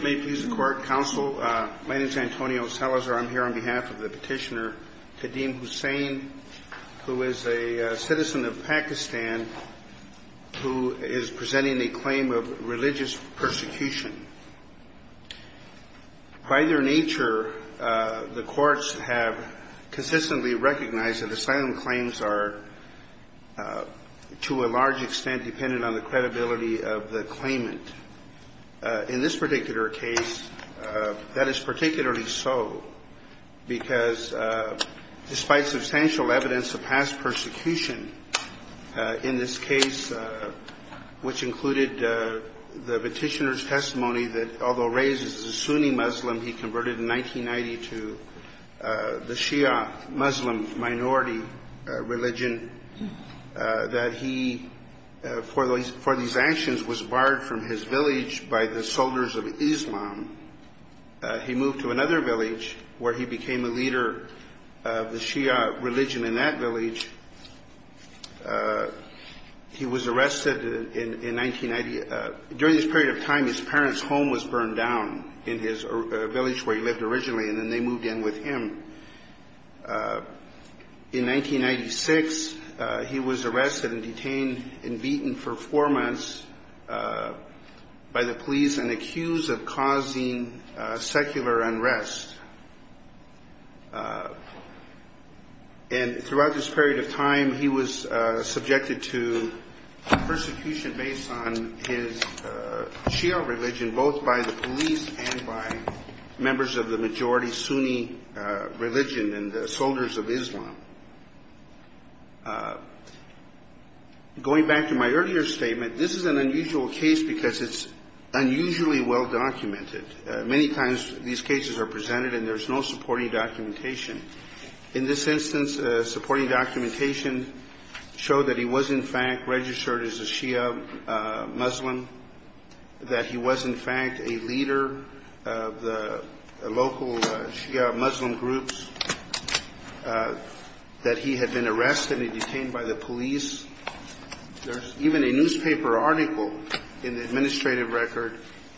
May it please the court, counsel. My name is Antonio Salazar. I'm here on behalf of the petitioner Kadeem Hussain, who is a citizen of Pakistan who is presenting a claim of religious persecution. By their nature, the courts have consistently recognized that asylum claims are to a large extent dependent on the credibility of the claimant. In this particular case, that is particularly so because despite substantial evidence of past persecution in this case, which included the petitioner's testimony that although raised as a Sunni Muslim, he converted in 1990 to the Shia Muslim minority religion, that he for these actions was barred from his village by the soldiers of Islam. He moved to another village where he became a leader of the Shia religion in that village. He was arrested in 1990. During this period of time, his parents' home was burned down in his village where he lived originally, and then they moved in with him. In 1996, he was arrested and detained and beaten for four months by the police and accused of causing secular unrest. And throughout this period of time, he was subjected to persecution based on his Shia religion, both by the police and by members of the majority Sunni religion and the soldiers of Islam. Going back to my earlier statement, this is an unusual case because it's unusually well documented. Many times these cases are presented and there's no supporting documentation. In this instance, supporting documentation showed that he was in fact registered as a Shia Muslim, that he was in fact a leader of the local Shia Muslim groups. That he had been arrested and detained by the police. There's even a newspaper article in the administrative record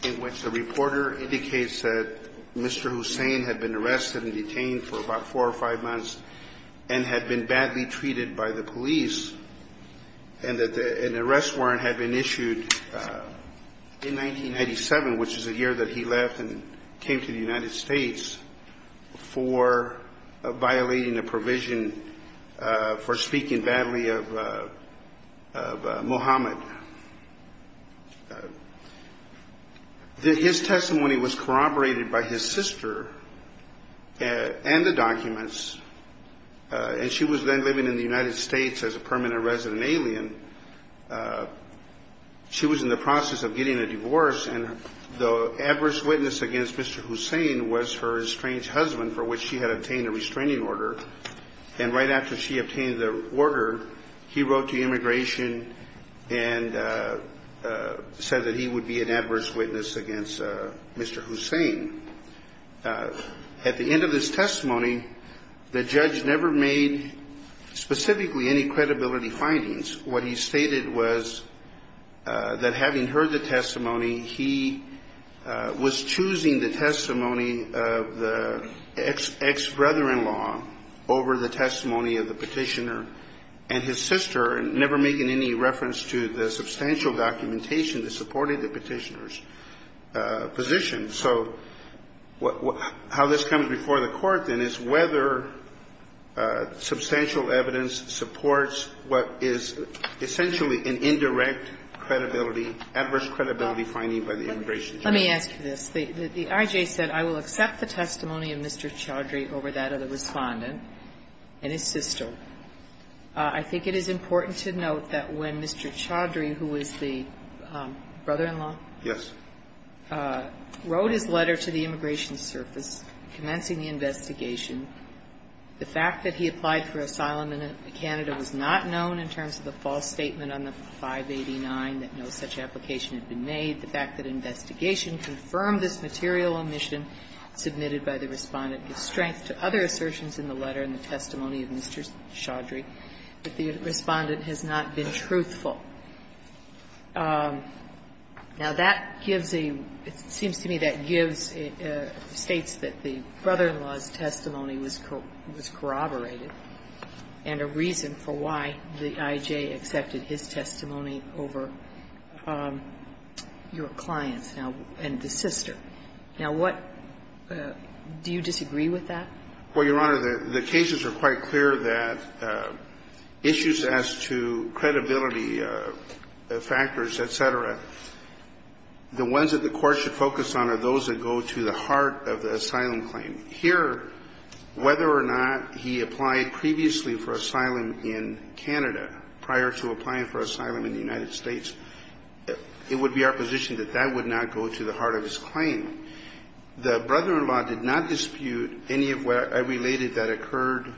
in which the reporter indicates that Mr. Hussain had been arrested and detained for about four or five months and had been badly treated by the police, and that an arrest warrant had been issued in 1997, which is the year that he left and came to the United States, for an arrest warrant. This is a case of violating a provision for speaking badly of Mohammed. His testimony was corroborated by his sister and the documents, and she was then living in the United States as a permanent resident alien. She was in the process of getting a divorce, and the adverse witness against Mr. Hussain was her estranged husband, for which she had obtained a restraining order. And right after she obtained the order, he wrote to immigration and said that he would be an adverse witness against Mr. Hussain. At the end of his testimony, the judge never made specifically any credibility findings. What he stated was that having heard the testimony, he was choosing the testimony of the ex-brother-in-law over the testimony of the petitioner and his sister, never making any reference to the substantial documentation that supported the petitioner's position. So how this comes before the Court, then, is whether substantial evidence supports what is essentially an indirect credibility, adverse credibility finding by the immigration judge. Let me ask you this. The I.J. said, I will accept the testimony of Mr. Chaudhry over that of the Respondent and his sister. I think it is important to note that when Mr. Chaudhry, who was the brother-in-law? Yes. Wrote his letter to the immigration service, commencing the investigation. The fact that he applied for asylum in Canada was not known in terms of the false statement on the 589 that no such application had been made. The fact that investigation confirmed this material omission submitted by the Respondent to other assertions in the letter and the testimony of Mr. Chaudhry, that the Respondent has not been truthful. Now, that gives a – it seems to me that gives a – states that the brother-in-law's testimony was corroborated and a reason for why the I.J. accepted his testimony over your client's now – and the sister. Now, what – do you disagree with that? Well, Your Honor, the cases are quite clear that issues as to credibility factors, et cetera, the ones that the Court should focus on are those that go to the heart of the asylum claim. Here, whether or not he applied previously for asylum in Canada, prior to applying for asylum in the United States, it would be our position that that would not go to the heart of his claim. The brother-in-law did not dispute any of what I related that occurred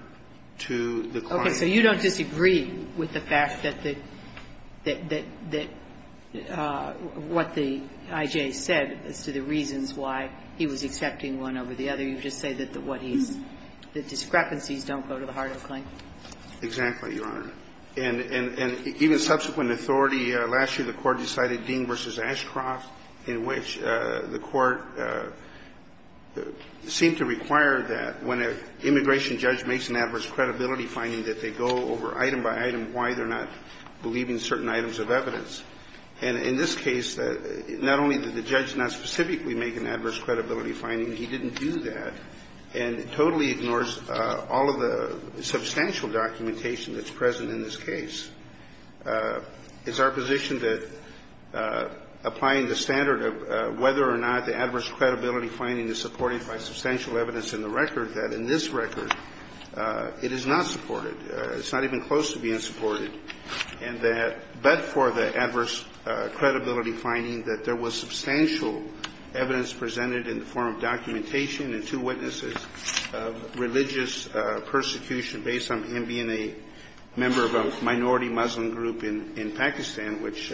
to the client. Okay. So you don't disagree with the fact that the – that what the I.J. said as to the reasons why he was accepting one over the other. You just say that what he's – the discrepancies don't go to the heart of the claim. Exactly, Your Honor. And even subsequent authority, last year the Court decided Dean v. Ashcroft, in which the Court seemed to require that when an immigration judge makes an adverse credibility finding that they go over item by item why they're not believing certain items of evidence. And in this case, not only did the judge not specifically make an adverse credibility finding, he didn't do that, and totally ignores all of the substantial documentation that's present in this case. It's our position that applying the standard of whether or not the adverse credibility finding is supported by substantial evidence in the record, that in this record it is not supported. It's not even close to being supported. And that – but for the adverse credibility finding that there was substantial evidence presented in the form of documentation and two witnesses of religious persecution based on him being a member of a minority Muslim group in Pakistan, which,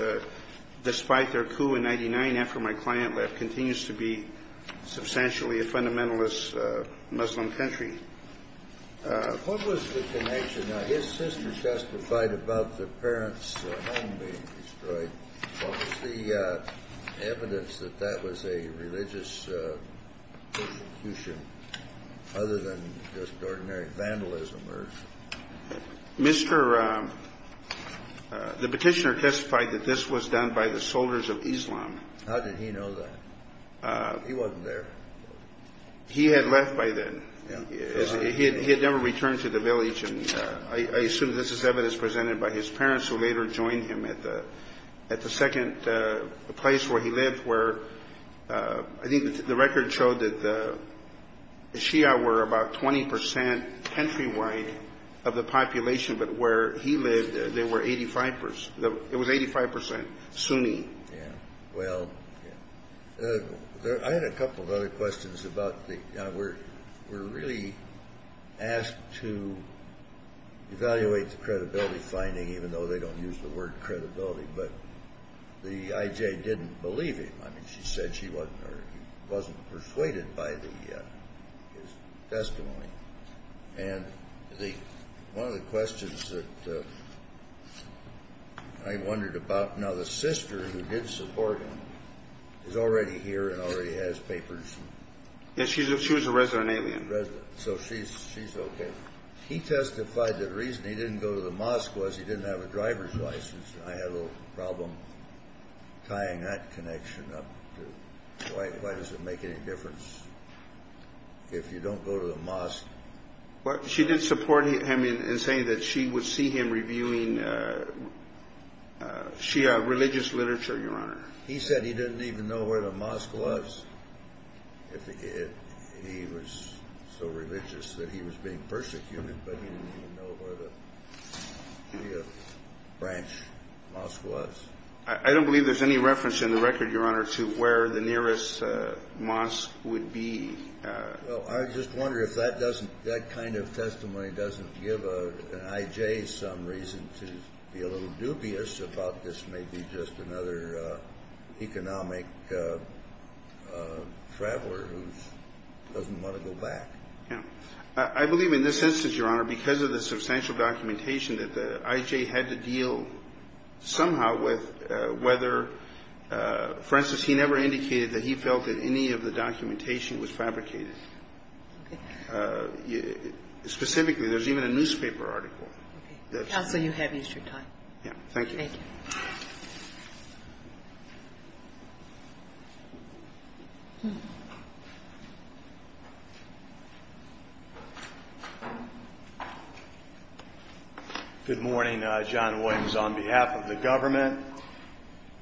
despite their coup in 99 after my client left, continues to be substantially a fundamentalist Muslim country. What was the connection? Now, his sister testified about the parents' home being destroyed. What was the evidence that that was a religious persecution other than just ordinary vandalism or – Mr. – the petitioner testified that this was done by the soldiers of Islam. How did he know that? He wasn't there. He had left by then. He had never returned to the village. And I assume this is evidence presented by his parents, who later joined him at the second place where he lived, where I think the record showed that the Shia were about 20 percent countrywide of the population. But where he lived, there were 85 percent – it was 85 percent Sunni. Yeah. Well, I had a couple of other questions about the – we're really asked to evaluate the credibility finding, even though they don't use the word credibility, but the IJ didn't believe him. I mean, she said she wasn't – or he wasn't persuaded by the – his testimony. And the – one of the questions that I wondered about – now, the sister who did support him is already here and already has papers. Yeah, she was a resident alien. So she's okay. He testified that the reason he didn't go to the mosque was he didn't have a driver's license. And I had a little problem tying that connection up to why does it make any difference if you don't go to the mosque? She did support him in saying that she would see him reviewing Shia religious literature, Your Honor. He said he didn't even know where the mosque was if he – he was so religious that he was being persecuted, but he didn't even know where the Shia branch mosque was. I don't believe there's any reference in the record, Your Honor, to where the nearest mosque would be. Well, I just wonder if that doesn't – that kind of testimony doesn't give an IJ some reason to be a little dubious about this may be just another economic traveler who doesn't want to go back. Yeah. I believe in this instance, Your Honor, because of the substantial documentation that the IJ had to deal somehow with whether – for instance, he never indicated that he felt that any of the documentation was fabricated. Okay. Specifically, there's even a newspaper article that's – Okay. Yeah. Thank you. Good morning. John Williams on behalf of the government.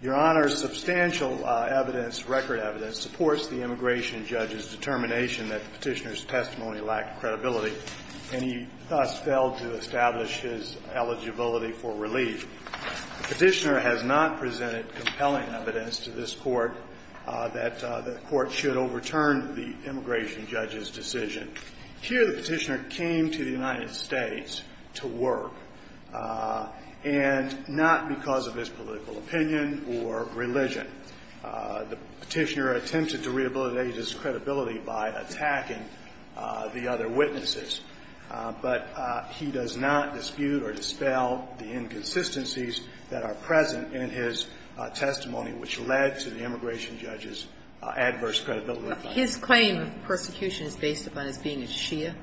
Your Honor, substantial evidence, record evidence, supports the immigration judge's determination that the petitioner's testimony lacked credibility, and he thus failed to establish his eligibility for relief. The petitioner has not presented compelling evidence to this Court that the Court should overturn the immigration judge's decision. Here, the petitioner came to the United States to work, and not because of his political opinion or religion. The petitioner attempted to rehabilitate his credibility by attacking the other witnesses, but he does not dispute or dispel the inconsistencies that are present in his testimony, which led to the immigration judge's adverse credibility. His claim of persecution is based upon his being a Shia?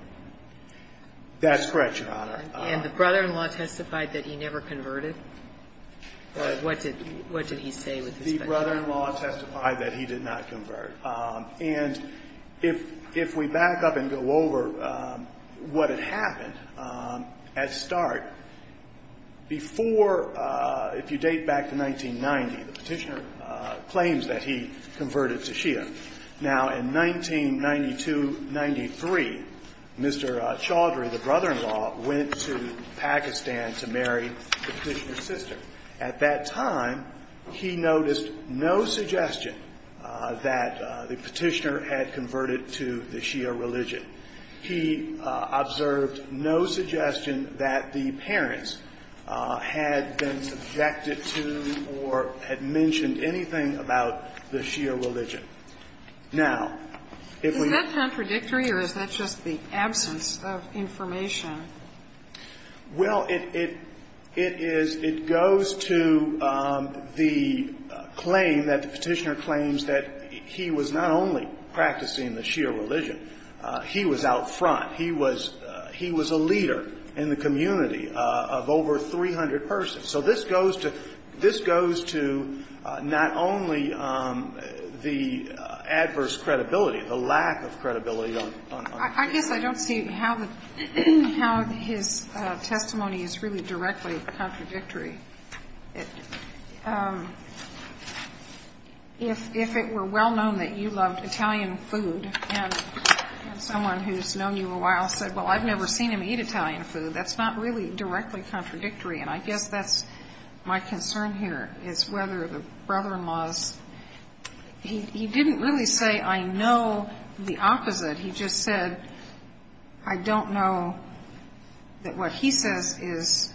That's correct, Your Honor. And the brother-in-law testified that he never converted? What did he say with respect to that? The brother-in-law testified that he did not convert. And if we back up and go over what had happened, at start, before – if you date back to 1990, the petitioner claims that he converted to Shia. Now, in 1992-93, Mr. Chaudhry, the brother-in-law, went to Pakistan to marry the petitioner's sister. At that time, he noticed no suggestion that the petitioner had converted to the Shia religion. He observed no suggestion that the parents had been subjected to or had mentioned anything about the Shia religion. Now, if we – Is that contradictory or is that just the absence of information? Well, it is – it goes to the claim that the petitioner claims that he was not only practicing the Shia religion. He was out front. He was – he was a leader in the community of over 300 persons. So this goes to – this goes to not only the adverse credibility, the lack of credibility on – I guess I don't see how the – how his testimony is really directly contradictory. If it were well known that you loved Italian food and someone who's known you a while said, well, I've never seen him eat Italian food, that's not really directly contradictory. And I guess that's my concern here is whether the brother-in-law's – he didn't really say, I know the opposite. He just said, I don't know that what he says is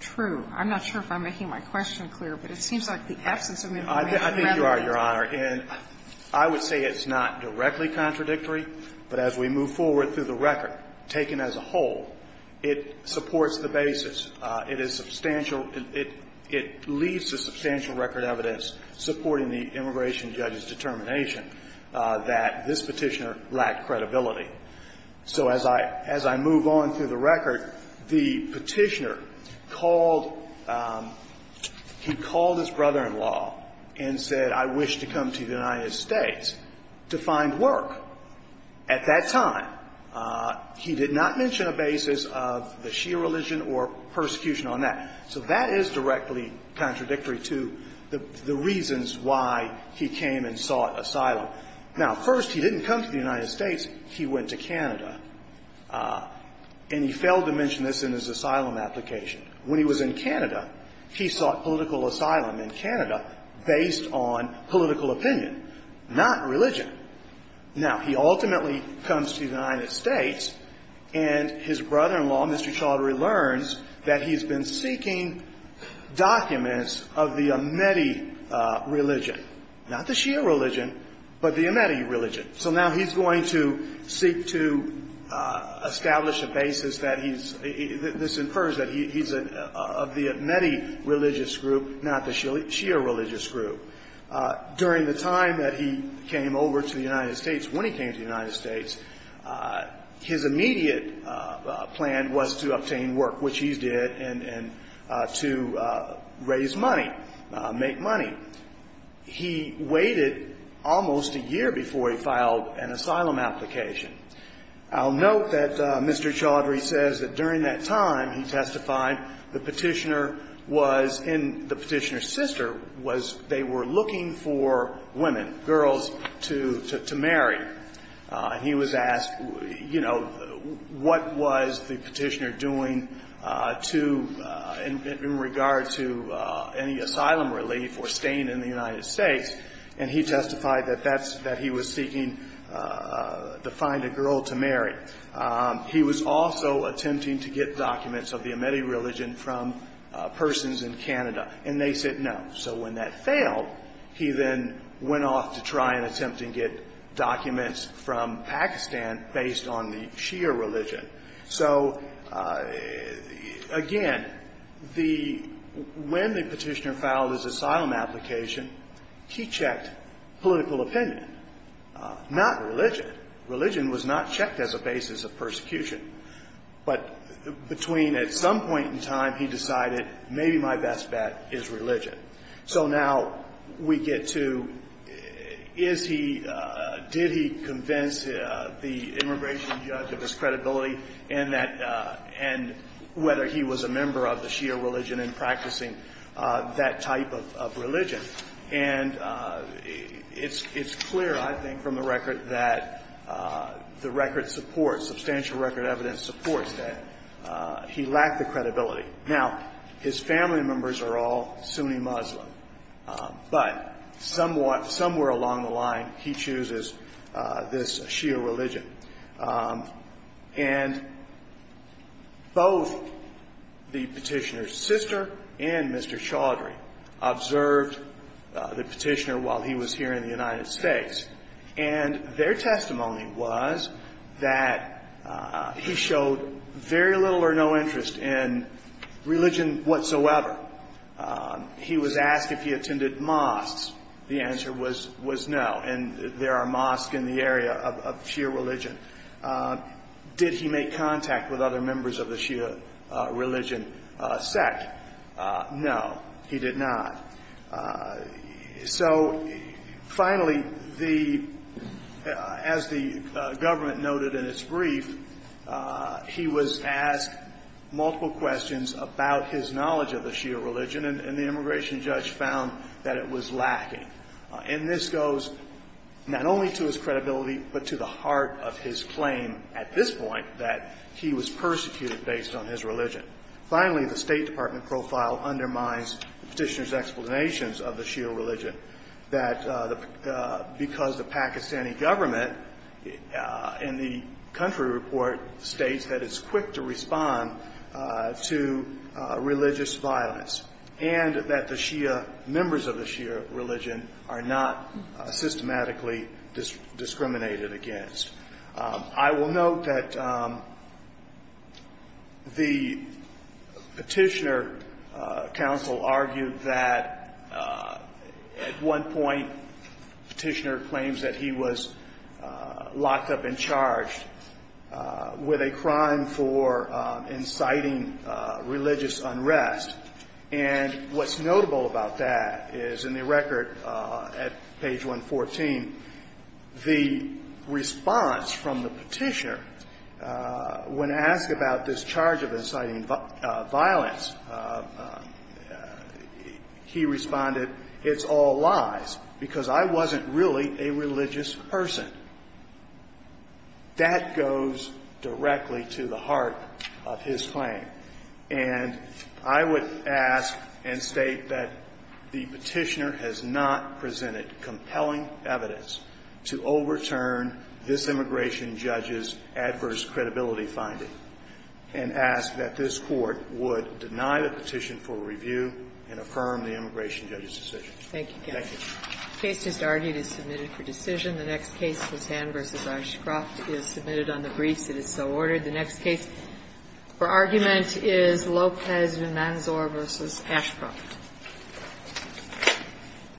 true. I'm not sure if I'm making my question clear, but it seems like the absence of information rather is. I think you are, Your Honor. And I would say it's not directly contradictory, but as we move forward through the record, taken as a whole, it supports the basis. It is substantial – it leaves a substantial record of evidence supporting the immigration judge's determination that this petitioner lacked credibility. So as I – as I move on through the record, the petitioner called – he called his brother-in-law and said, I wish to come to the United States to find work. At that time, he did not mention a basis of the Shia religion or persecution on that. So that is directly contradictory to the reasons why he came and sought asylum. Now, first, he didn't come to the United States. He went to Canada. And he failed to mention this in his asylum application. When he was in Canada, he sought political asylum in Canada based on political opinion, not religion. Now, he ultimately comes to the United States, and his brother-in-law, Mr. Chaudhary, learns that he's been seeking documents of the Ahmadi religion, not the Shia religion, but the Ahmadi religion. So now he's going to seek to establish a basis that he's – this infers that he's of the Ahmadi religious group, not the Shia religious group. During the time that he came over to the United States, when he came to the United States, his immediate plan was to obtain work, which he did, and to raise money, make money. He waited almost a year before he filed an asylum application. I'll note that Mr. Chaudhary says that during that time, he testified the Petitioner was – and the Petitioner's sister was – they were looking for women, girls, to marry. He was asked, you know, what was the Petitioner doing to – in regard to any asylum relief or staying in the United States, and he testified that that's – that he was seeking to find a girl to marry. He was also attempting to get documents of the Ahmadi religion from persons in Canada, and they said no. So when that failed, he then went off to try and attempt to get documents from Pakistan based on the Shia religion. So, again, the – when the Petitioner filed his asylum application, he checked political opinion, not religion. Religion was not checked as a basis of persecution. But between – at some point in time, he decided maybe my best bet is religion. So now we get to is he – did he convince the immigration judge of his credibility? And that – and whether he was a member of the Shia religion and practicing that type of religion? And it's clear, I think, from the record that the record supports – substantial record evidence supports that he lacked the credibility. Now, his family members are all Sunni Muslim, but somewhat – somewhere along the line, he chooses this Shia religion. And both the Petitioner's sister and Mr. Chaudhry observed the Petitioner while he was here in the United States. And their testimony was that he showed very little or no interest in religion whatsoever. He was asked if he attended mosques. The answer was no. And there are mosques in the area of Shia religion. Did he make contact with other members of the Shia religion sect? No, he did not. So, finally, the – as the government noted in its brief, he was asked multiple questions about his knowledge of the Shia religion, and the immigration judge found that it was lacking. And this goes not only to his credibility, but to the heart of his claim at this point that he was persecuted based on his religion. Finally, the State Department profile undermines the Petitioner's explanations of the Shia religion, that because the Pakistani government in the country report states that it's quick to respond to religious violence, and that the Shia – members of the Shia religion are not systematically discriminated against. I will note that the Petitioner counsel argued that at one point Petitioner claims that he was locked up and charged with a crime for inciting religious unrest. And what's notable about that is in the record at page 114, the response from the Petitioner, when asked about this charge of inciting violence, he responded, it's all lies, because I wasn't really a religious person. That goes directly to the heart of his claim. And I would ask and state that the Petitioner has not presented compelling evidence to overturn this immigration judge's adverse credibility finding, and ask that this Court would deny the petition for review and affirm the immigration judge's decision. Thank you, counsel. The case just argued is submitted for decision. The next case, Katan v. Ashcroft, is submitted on the briefs. It is so ordered. The next case for argument is Lopez-Menzor v. Ashcroft.